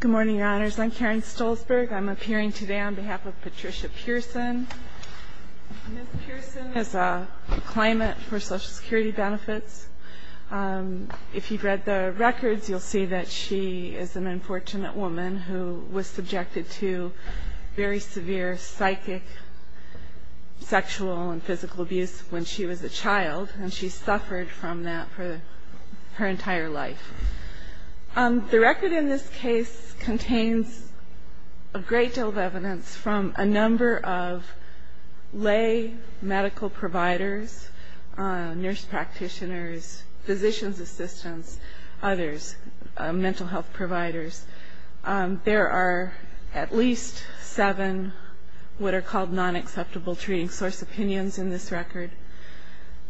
Good morning, Your Honors. I'm Karen Stolzberg. I'm appearing today on behalf of Patricia Pearson. Ms. Pearson has a claimant for Social Security benefits. If you've read the records, you'll see that she is an unfortunate woman who was subjected to very severe psychic, sexual, and physical abuse when she was a child, and she suffered from that for her entire life. The record in this case contains a great deal of evidence from a number of lay medical providers, nurse practitioners, physician's assistants, others, mental health providers. There are at least seven what are called non-acceptable treating source opinions in this record.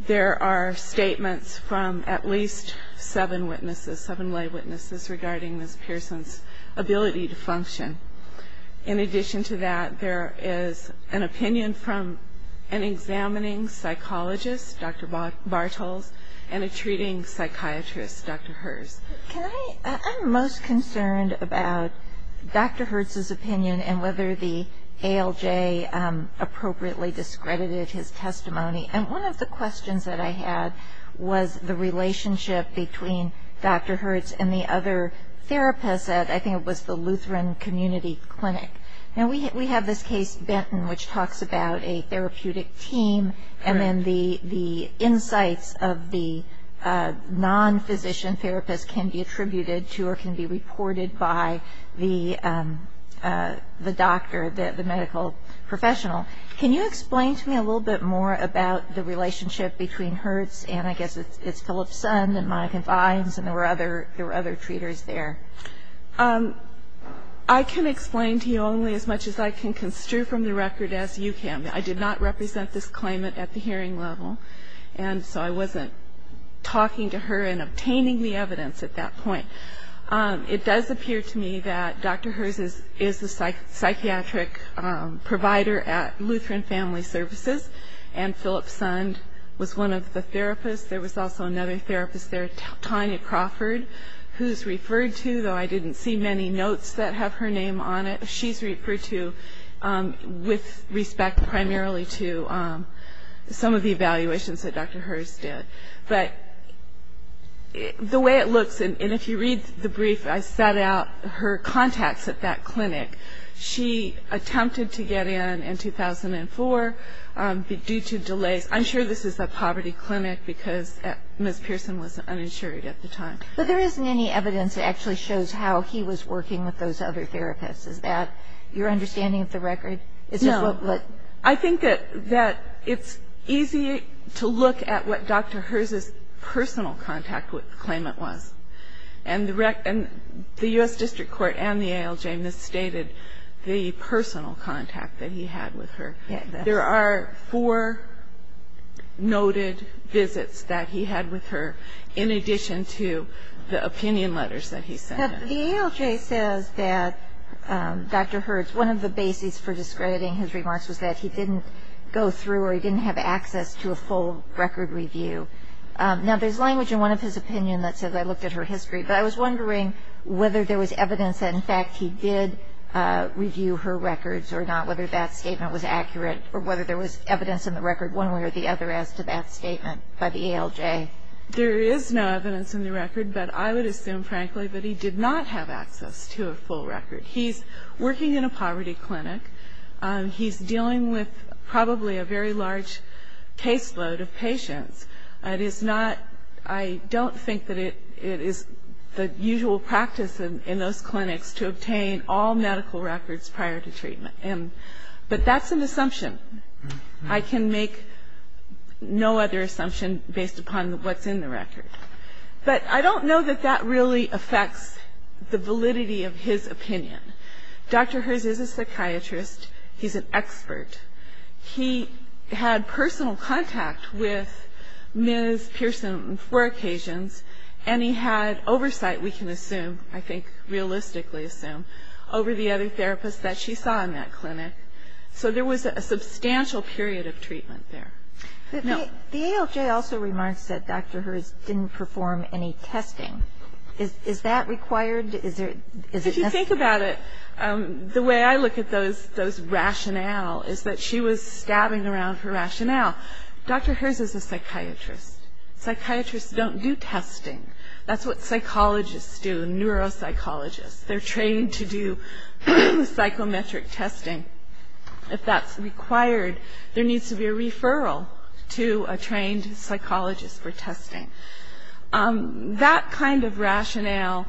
There are statements from at least seven witnesses, seven lay witnesses, regarding Ms. Pearson's ability to function. In addition to that, there is an opinion from an examining psychologist, Dr. Bartels, and a treating psychiatrist, Dr. Herz. I'm most concerned about Dr. Herz's opinion and whether the ALJ appropriately discredited his testimony. And one of the questions that I had was the relationship between Dr. Herz and the other therapist at I think it was the Lutheran Community Clinic. Now, we have this case, Benton, which talks about a therapeutic team, and then the insights of the non-physician therapist can be attributed to or can be reported by the doctor, the medical professional. Can you explain to me a little bit more about the relationship between Herz and I guess it's Philip's son that Monica finds and there were other treaters there? I can explain to you only as much as I can construe from the record as you can. I did not represent this claimant at the hearing level, and so I wasn't talking to her and obtaining the evidence at that point. It does appear to me that Dr. Herz is a psychiatric provider at Lutheran Family Services, and Philip's son was one of the therapists. There was also another therapist there, Tanya Crawford, who's referred to, though I didn't see many notes that have her name on it. She's referred to with respect primarily to some of the evaluations that Dr. Herz did. But the way it looks, and if you read the brief, I set out her contacts at that clinic. She attempted to get in in 2004 due to delays. I'm sure this is a poverty clinic because Ms. Pearson was uninsured at the time. But there isn't any evidence that actually shows how he was working with those other therapists. Is that your understanding of the record? I think that it's easy to look at what Dr. Herz's personal contact with the claimant was. And the U.S. District Court and the ALJ misstated the personal contact that he had with her. There are four noted visits that he had with her in addition to the opinion letters that he sent. Now, the ALJ says that Dr. Herz, one of the bases for discrediting his remarks, was that he didn't go through or he didn't have access to a full record review. Now, there's language in one of his opinions that says, I looked at her history. But I was wondering whether there was evidence that, in fact, he did review her records or not, whether that statement was accurate, or whether there was evidence in the record one way or the other as to that statement by the ALJ. There is no evidence in the record. But I would assume, frankly, that he did not have access to a full record. He's working in a poverty clinic. He's dealing with probably a very large caseload of patients. It is not, I don't think that it is the usual practice in those clinics to obtain all medical records prior to treatment. But that's an assumption. I can make no other assumption based upon what's in the record. But I don't know that that really affects the validity of his opinion. Dr. Herz is a psychiatrist. He's an expert. He had personal contact with Ms. Pearson on four occasions, and he had oversight, we can assume, I think realistically assume, over the other therapists that she saw in that clinic. So there was a substantial period of treatment there. No. The ALJ also remarks that Dr. Herz didn't perform any testing. Is that required? Is it necessary? If you think about it, the way I look at those rationale is that she was stabbing around for rationale. Dr. Herz is a psychiatrist. Psychiatrists don't do testing. That's what psychologists do, neuropsychologists. They're trained to do psychometric testing. If that's required, there needs to be a referral to a trained psychologist for testing. That kind of rationale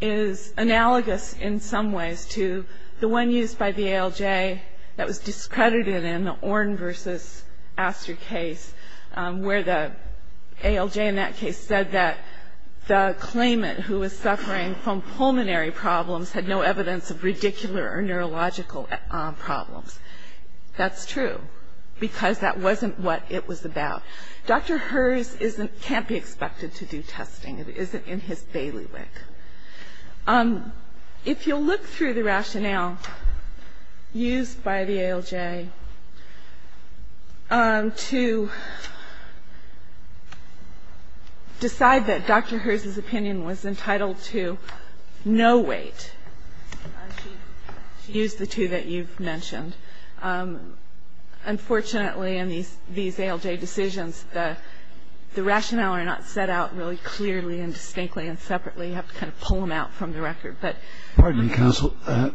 is analogous in some ways to the one used by the ALJ that was discredited in the Orn versus Astor case, where the ALJ in that case said that the claimant who was suffering from pulmonary problems had no evidence of radicular or neurological problems. That's true, because that wasn't what it was about. Dr. Herz can't be expected to do testing. It isn't in his bailiwick. If you'll look through the rationale used by the ALJ to decide that Dr. Herz's opinion was entitled to no weight, she used the two that you've mentioned. Unfortunately, in these ALJ decisions, the rationale are not set out really clearly and distinctly and separately. You have to kind of pull them out from the record. Pardon me, counsel.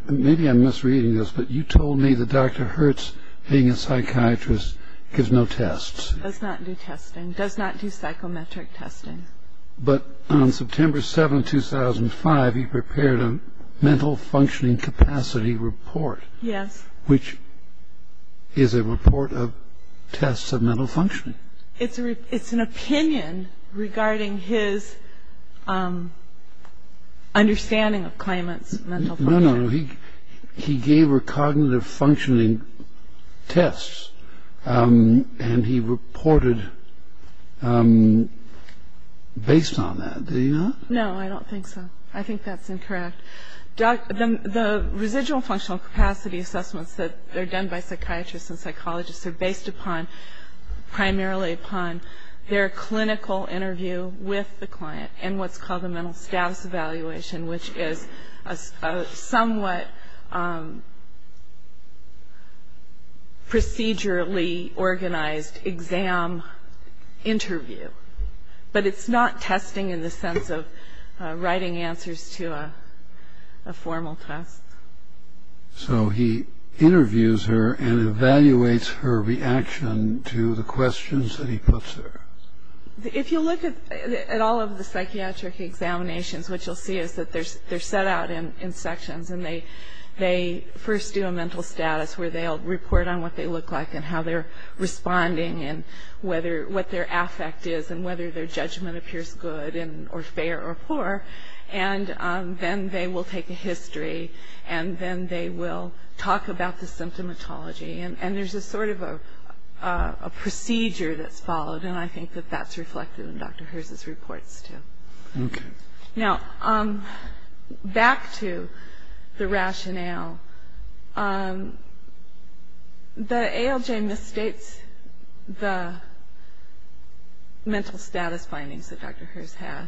Maybe I'm misreading this, but you told me that Dr. Herz, being a psychiatrist, gives no tests. Does not do testing. Does not do psychometric testing. But on September 7, 2005, he prepared a mental functioning capacity report. Yes. Which is a report of tests of mental functioning. It's an opinion regarding his understanding of claimants' mental functioning. No, no. He gave her cognitive functioning tests, and he reported based on that. Did he not? No, I don't think so. I think that's incorrect. The residual functional capacity assessments that are done by psychiatrists and psychologists are based primarily upon their clinical interview with the client and what's called a mental status evaluation, which is a somewhat procedurally organized exam interview. But it's not testing in the sense of writing answers to a formal test. So he interviews her and evaluates her reaction to the questions that he puts her. If you look at all of the psychiatric examinations, what you'll see is that they're set out in sections, and they first do a mental status where they'll report on what they look like and how they're responding and what their affect is and whether their judgment appears good or fair or poor. And then they will take a history, and then they will talk about the symptomatology. And there's a sort of a procedure that's followed, and I think that that's reflected in Dr. Herz's reports too. Okay. Now, back to the rationale. The ALJ misstates the mental status findings that Dr. Herz had.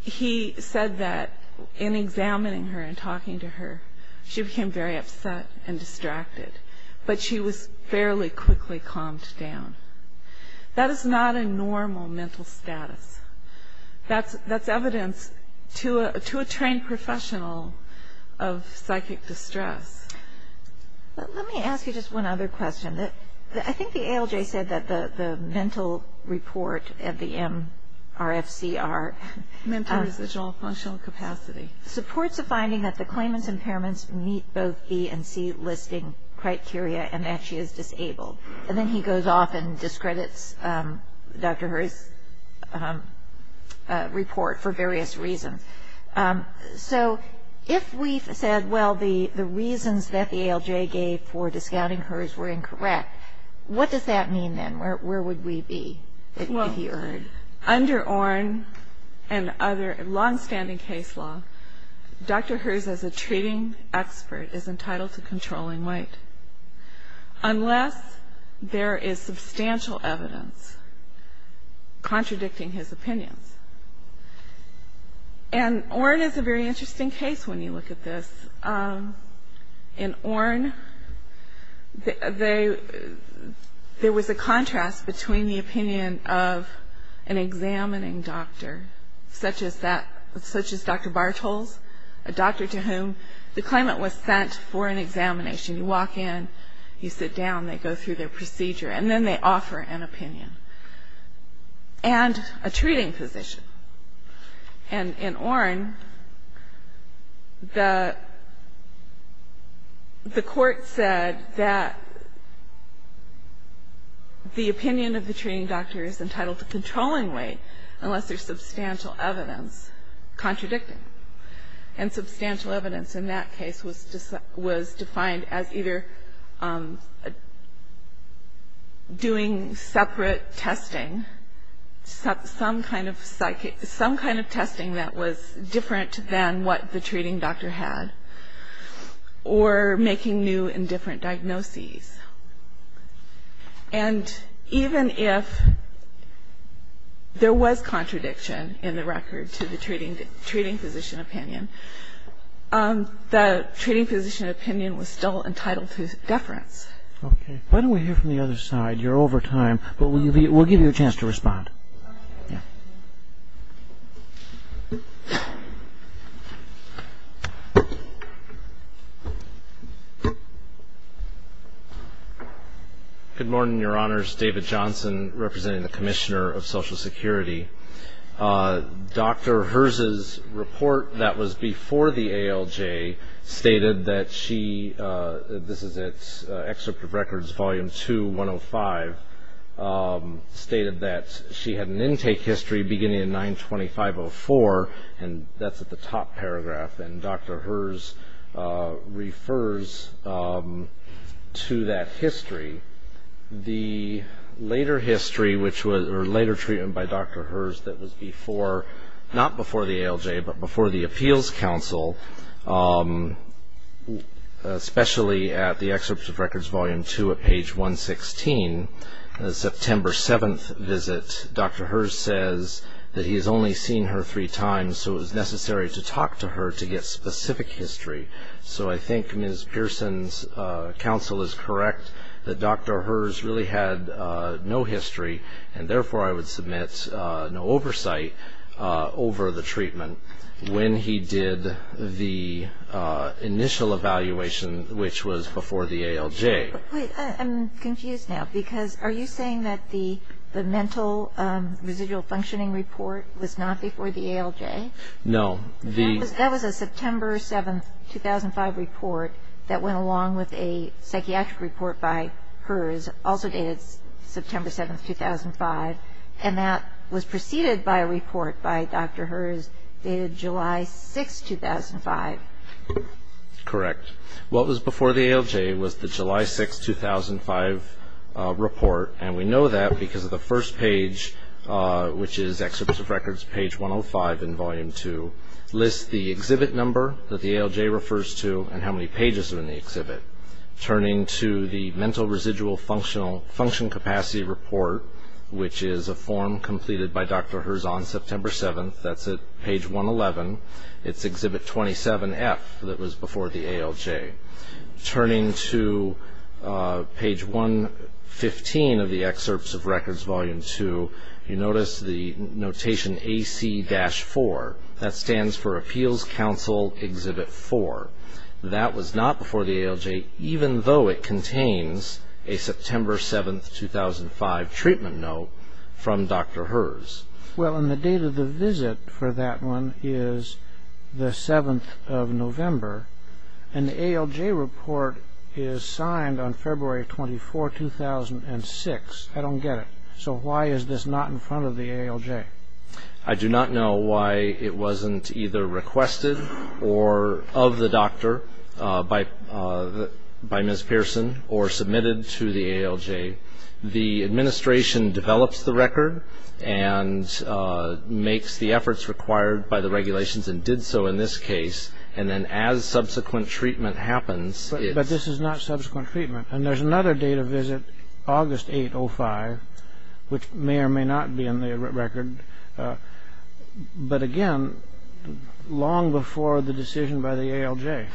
He said that in examining her and talking to her, she became very upset and distracted, but she was fairly quickly calmed down. That is not a normal mental status. That's evidence to a trained professional of psychic distress. Let me ask you just one other question. I think the ALJ said that the mental report at the MRFCR supports a finding that the claimant's impairments meet both E and C listing criteria and that she is disabled. And then he goes off and discredits Dr. Herz's report for various reasons. So if we said, well, the reasons that the ALJ gave for discounting Herz were incorrect, what does that mean then? Where would we be, if you heard? Well, under ORIN and other longstanding case law, Dr. Herz, as a treating expert, is entitled to controlling weight. Unless there is substantial evidence contradicting his opinions. And ORIN is a very interesting case when you look at this. In ORIN, there was a contrast between the opinion of an examining doctor, such as Dr. Bartels, a doctor to whom the claimant was sent for an examination. You walk in, you sit down, they go through their procedure, and then they offer an opinion. And a treating physician. And in ORIN, the court said that the opinion of the treating doctor is entitled to controlling weight unless there is substantial evidence contradicting. And substantial evidence in that case was defined as either doing separate testing, some kind of testing that was different than what the treating doctor had, or making new and different diagnoses. And even if there was contradiction in the record to the treating physician opinion, the treating physician opinion was still entitled to deference. Okay. Why don't we hear from the other side? You're over time, but we'll give you a chance to respond. Yeah. Good morning, Your Honors. David Johnson, representing the Commissioner of Social Security. Dr. Herz's report that was before the ALJ stated that she, this is at Excerpt of Records, Volume 2, 105, stated that she had an intake history beginning in 925.04, and that's at the top paragraph. And Dr. Herz refers to that history. The later history, or later treatment by Dr. Herz that was before, not before the ALJ, but before the Appeals Council, especially at the Excerpts of Records, Volume 2 at page 116, the September 7th visit, Dr. Herz says that he has only seen her three times, so it was necessary to talk to her to get specific history. So I think Ms. Pearson's counsel is correct that Dr. Herz really had no history, and therefore I would submit no oversight over the treatment when he did the initial evaluation, which was before the ALJ. I'm confused now, because are you saying that the mental residual functioning report was not before the ALJ? No. That was a September 7th, 2005 report that went along with a psychiatric report by Herz, also dated September 7th, 2005, and that was preceded by a report by Dr. Herz dated July 6th, 2005. Correct. What was before the ALJ was the July 6th, 2005 report, and we know that because of the first page, which is Excerpts of Records, page 105 in Volume 2, lists the exhibit number that the ALJ refers to and how many pages are in the exhibit. Turning to the mental residual function capacity report, which is a form completed by Dr. Herz on September 7th, that's at page 111, it's exhibit 27F that was before the ALJ. Turning to page 115 of the Excerpts of Records, Volume 2, you notice the notation AC-4. That stands for Appeals Counsel Exhibit 4. That was not before the ALJ, even though it contains a September 7th, 2005 treatment note from Dr. Herz. Well, and the date of the visit for that one is the 7th of November, and the ALJ report is signed on February 24, 2006. I don't get it. So why is this not in front of the ALJ? I do not know why it wasn't either requested or of the doctor by Ms. Pearson or submitted to the ALJ. The administration develops the record and makes the efforts required by the regulations and did so in this case, and then as subsequent treatment happens, it's... But this is not subsequent treatment, and there's another date of visit, August 8, 2005, which may or may not be in the record, but again, long before the decision by the ALJ.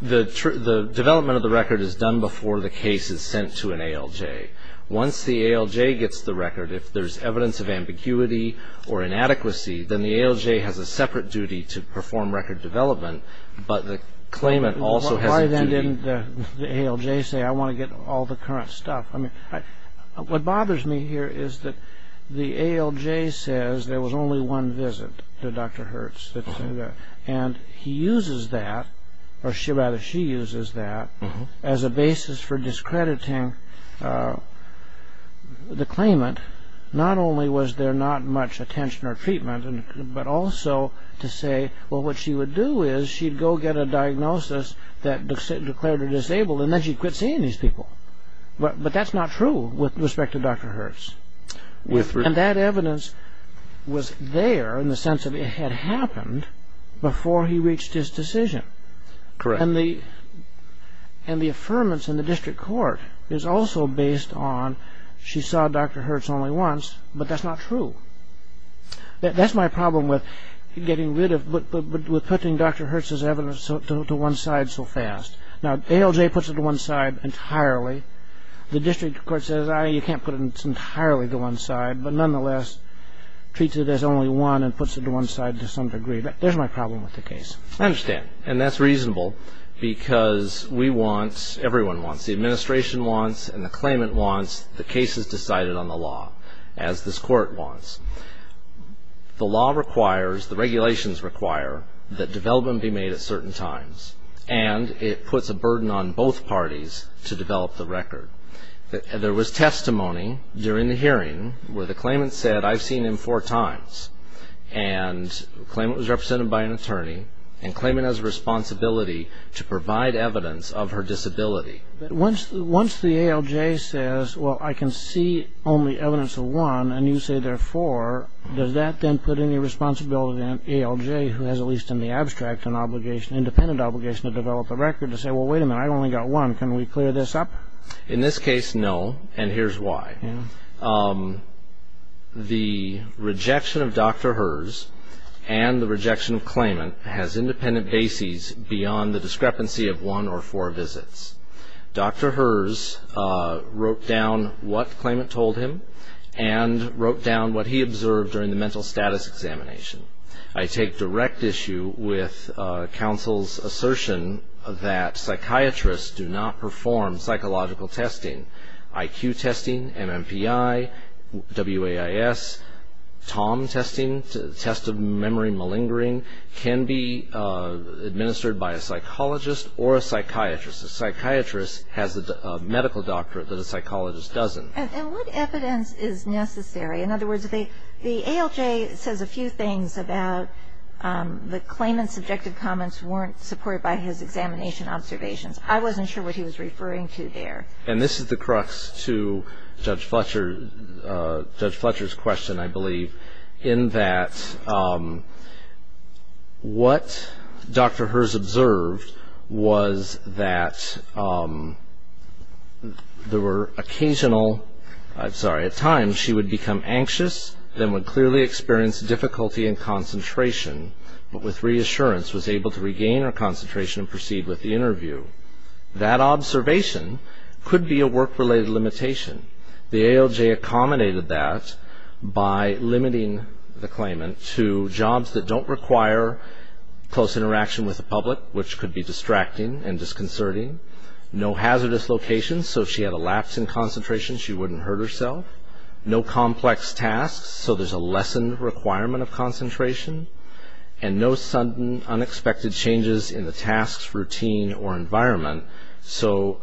The development of the record is done before the case is sent to an ALJ. Once the ALJ gets the record, if there's evidence of ambiguity or inadequacy, then the ALJ has a separate duty to perform record development, but the claimant also has a duty... Why then didn't the ALJ say, I want to get all the current stuff? What bothers me here is that the ALJ says there was only one visit to Dr. Herz, and he uses that, or rather she uses that, as a basis for discrediting the claimant. Not only was there not much attention or treatment, but also to say, well, what she would do is she'd go get a diagnosis that declared her disabled, and then she'd quit seeing these people. But that's not true with respect to Dr. Herz. And that evidence was there in the sense that it had happened before he reached his decision. And the affirmance in the district court is also based on, she saw Dr. Herz only once, but that's not true. That's my problem with putting Dr. Herz's evidence to one side so fast. Now, ALJ puts it to one side entirely. The district court says, you can't put it entirely to one side, but nonetheless treats it as only one and puts it to one side to some degree. But there's my problem with the case. I understand, and that's reasonable because we want, everyone wants, the administration wants and the claimant wants the cases decided on the law, as this court wants. The law requires, the regulations require, that development be made at certain times, and it puts a burden on both parties to develop the record. There was testimony during the hearing where the claimant said, I've seen him four times, and the claimant was represented by an attorney, and the claimant has a responsibility to provide evidence of her disability. But once the ALJ says, well, I can see only evidence of one, and you say there are four, does that then put any responsibility on ALJ, who has at least in the abstract an obligation, independent obligation to develop a record, to say, well, wait a minute, I've only got one. Can we clear this up? In this case, no, and here's why. The rejection of Dr. Herz and the rejection of claimant has independent bases beyond the discrepancy of one or four visits. Dr. Herz wrote down what the claimant told him and wrote down what he observed during the mental status examination. I take direct issue with counsel's assertion that psychiatrists do not perform psychological testing. IQ testing, MMPI, WAIS, TOM testing, test of memory malingering, can be administered by a psychologist or a psychiatrist. A psychiatrist has a medical doctorate that a psychologist doesn't. And what evidence is necessary? In other words, the ALJ says a few things about the claimant's subjective comments weren't supported by his examination observations. I wasn't sure what he was referring to there. And this is the crux to Judge Fletcher's question, I believe, in that what Dr. Herz observed was that there were occasional, I'm sorry, at times she would become anxious, then would clearly experience difficulty in concentration, but with reassurance was able to regain her concentration and proceed with the interview. That observation could be a work-related limitation. The ALJ accommodated that by limiting the claimant to jobs that don't require close interaction with the public, which could be distracting and disconcerting. No hazardous locations, so if she had a lapse in concentration, she wouldn't hurt herself. No complex tasks, so there's a lessened requirement of concentration. And no sudden, unexpected changes in the tasks, routine, or environment, so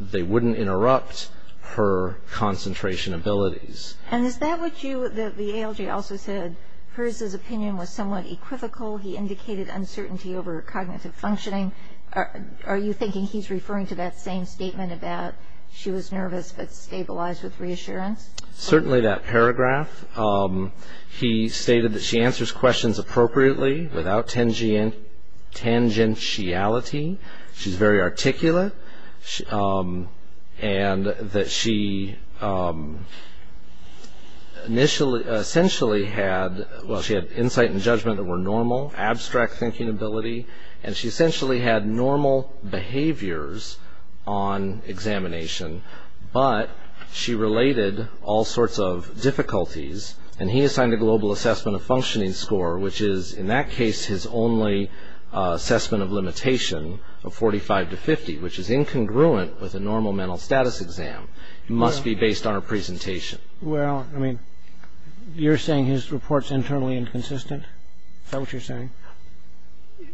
they wouldn't interrupt her concentration abilities. And is that what you, the ALJ also said, Herz's opinion was somewhat equivocal. He indicated uncertainty over cognitive functioning. Are you thinking he's referring to that same statement about she was nervous but stabilized with reassurance? Certainly that paragraph. He stated that she answers questions appropriately, without tangentiality. She's very articulate, and that she essentially had, well, she had insight and judgment that were normal, abstract thinking ability, and she essentially had normal behaviors on examination, but she related all sorts of difficulties, and he assigned a global assessment of functioning score, which is, in that case, his only assessment of limitation of 45 to 50, which is incongruent with a normal mental status exam. It must be based on her presentation. Well, I mean, you're saying his report's internally inconsistent? Is that what you're saying?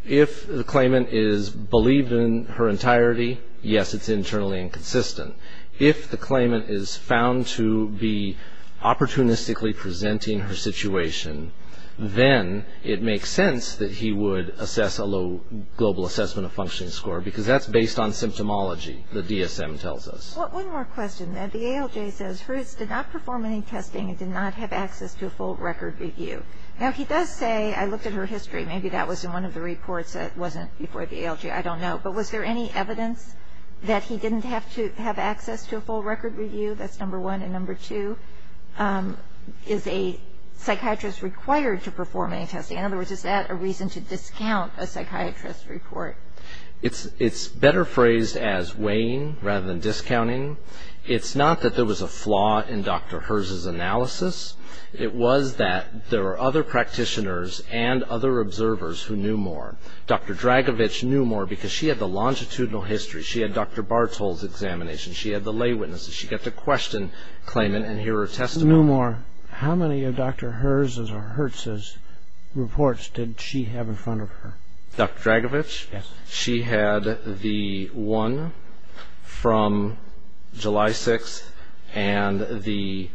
If the claimant is believed in her entirety, yes, it's internally inconsistent. If the claimant is found to be opportunistically presenting her situation, then it makes sense that he would assess a low global assessment of functioning score, because that's based on symptomology, the DSM tells us. Well, one more question. The ALJ says Herz did not perform any testing and did not have access to a full record review. Now, he does say, I looked at her history, maybe that was in one of the reports that wasn't before the ALJ, I don't know, but was there any evidence that he didn't have to have access to a full record review? That's number one. And number two, is a psychiatrist required to perform any testing? In other words, is that a reason to discount a psychiatrist's report? It's better phrased as weighing rather than discounting. It's not that there was a flaw in Dr. Herz's analysis. It was that there were other practitioners and other observers who knew more. Dr. Dragovich knew more because she had the longitudinal history. She had Dr. Bartol's examination. She had the lay witnesses. She got to question the claimant and hear her testimony. How many of Dr. Herz's reports did she have in front of her? Dr. Dragovich? Yes. She had the one from July 6th and the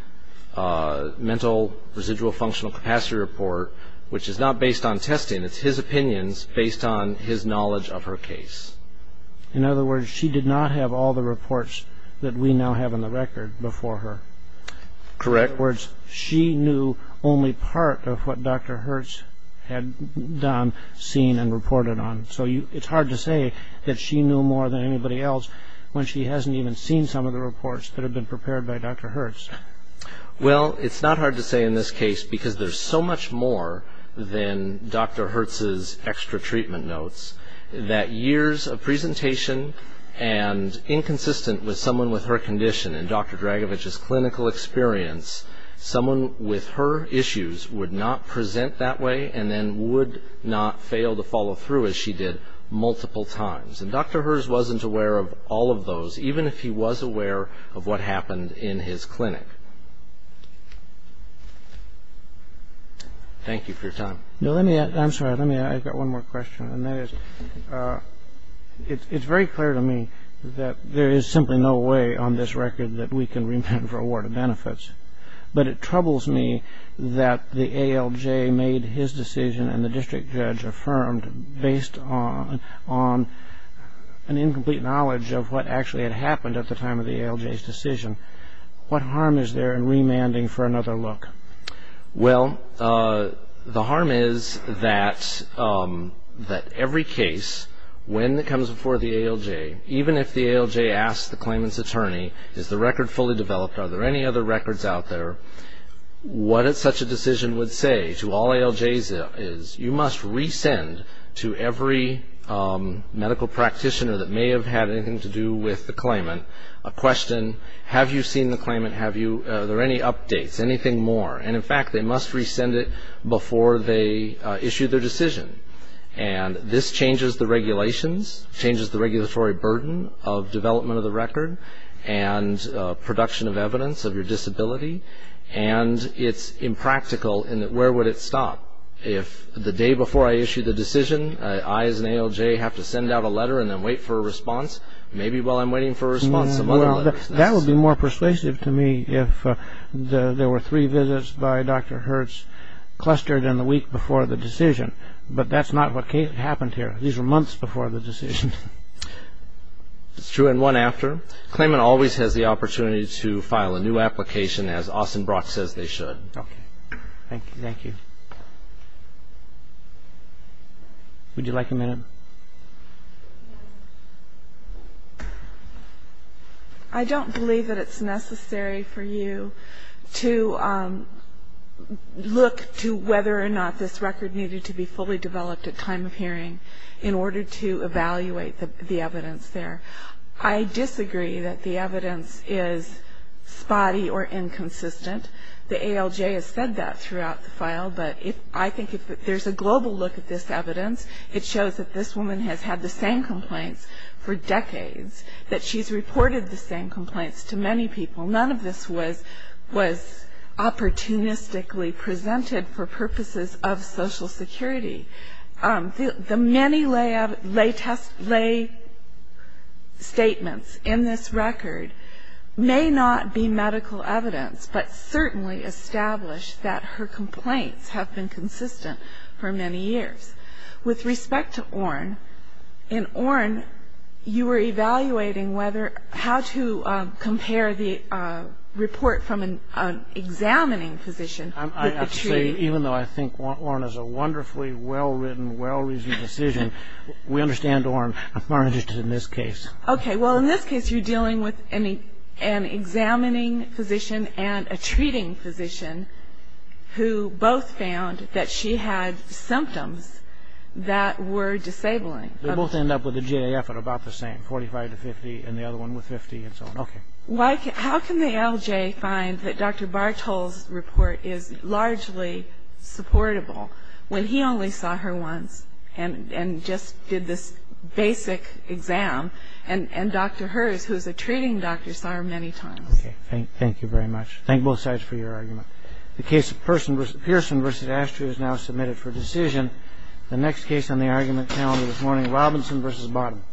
mental residual functional capacity report, which is not based on testing. It's his opinions based on his knowledge of her case. In other words, she did not have all the reports that we now have in the record before her. Correct. In other words, she knew only part of what Dr. Herz had done, seen, and reported on. So it's hard to say that she knew more than anybody else when she hasn't even seen some of the reports that have been prepared by Dr. Herz. Well, it's not hard to say in this case because there's so much more than Dr. Herz's extra treatment notes that years of presentation and inconsistent with someone with her condition and Dr. Dragovich's clinical experience, someone with her issues would not present that way and then would not fail to follow through as she did multiple times. And Dr. Herz wasn't aware of all of those, even if he was aware of what happened in his clinic. Thank you for your time. I'm sorry. I've got one more question. And that is, it's very clear to me that there is simply no way on this record that we can remand for award of benefits. But it troubles me that the ALJ made his decision and the district judge affirmed based on an incomplete knowledge of what actually had happened at the time of the ALJ's decision. What harm is there in remanding for another look? Well, the harm is that every case, when it comes before the ALJ, is the record fully developed? Are there any other records out there? What such a decision would say to all ALJs is you must resend to every medical practitioner that may have had anything to do with the claimant a question, have you seen the claimant, are there any updates, anything more? And, in fact, they must resend it before they issue their decision. And this changes the regulations, changes the regulatory burden of development of the record, and production of evidence of your disability. And it's impractical in that where would it stop? If the day before I issue the decision, I as an ALJ have to send out a letter and then wait for a response, maybe while I'm waiting for a response some other letter. That would be more persuasive to me if there were three visits by Dr. Hertz clustered in the week before the decision. But that's not what happened here. These were months before the decision. It's true in one after. Claimant always has the opportunity to file a new application as Austin Brock says they should. Okay. Thank you. Would you like a minute? I don't believe that it's necessary for you to look to whether or not this record needed to be fully developed at time of hearing in order to evaluate the evidence there. I disagree that the evidence is spotty or inconsistent. The ALJ has said that throughout the file, but I think if there's a global look at this evidence, it shows that this woman has had the same complaints for decades, that she's reported the same complaints to many people. None of this was opportunistically presented for purposes of Social Security. The many lay statements in this record may not be medical evidence, but certainly establish that her complaints have been consistent for many years. With respect to Orin, in Orin you were evaluating how to compare the report from an examining physician with a treating. I have to say, even though I think Orin is a wonderfully well-written, well-reasoned decision, we understand Orin. Orin is just in this case. Okay. Well, in this case you're dealing with an examining physician and a treating physician who both found that she had symptoms that were disabling. They both end up with a GAF of about the same, 45 to 50, and the other one with 50 and so on. Okay. How can the ALJ find that Dr. Bartol's report is largely supportable when he only saw her once and just did this basic exam, and Dr. Herz, who's a treating doctor, saw her many times? Okay. Thank you very much. Thank both sides for your argument. The case of Pearson v. Ashtray is now submitted for decision. The next case on the argument calendar this morning, Robinson v. Bottom.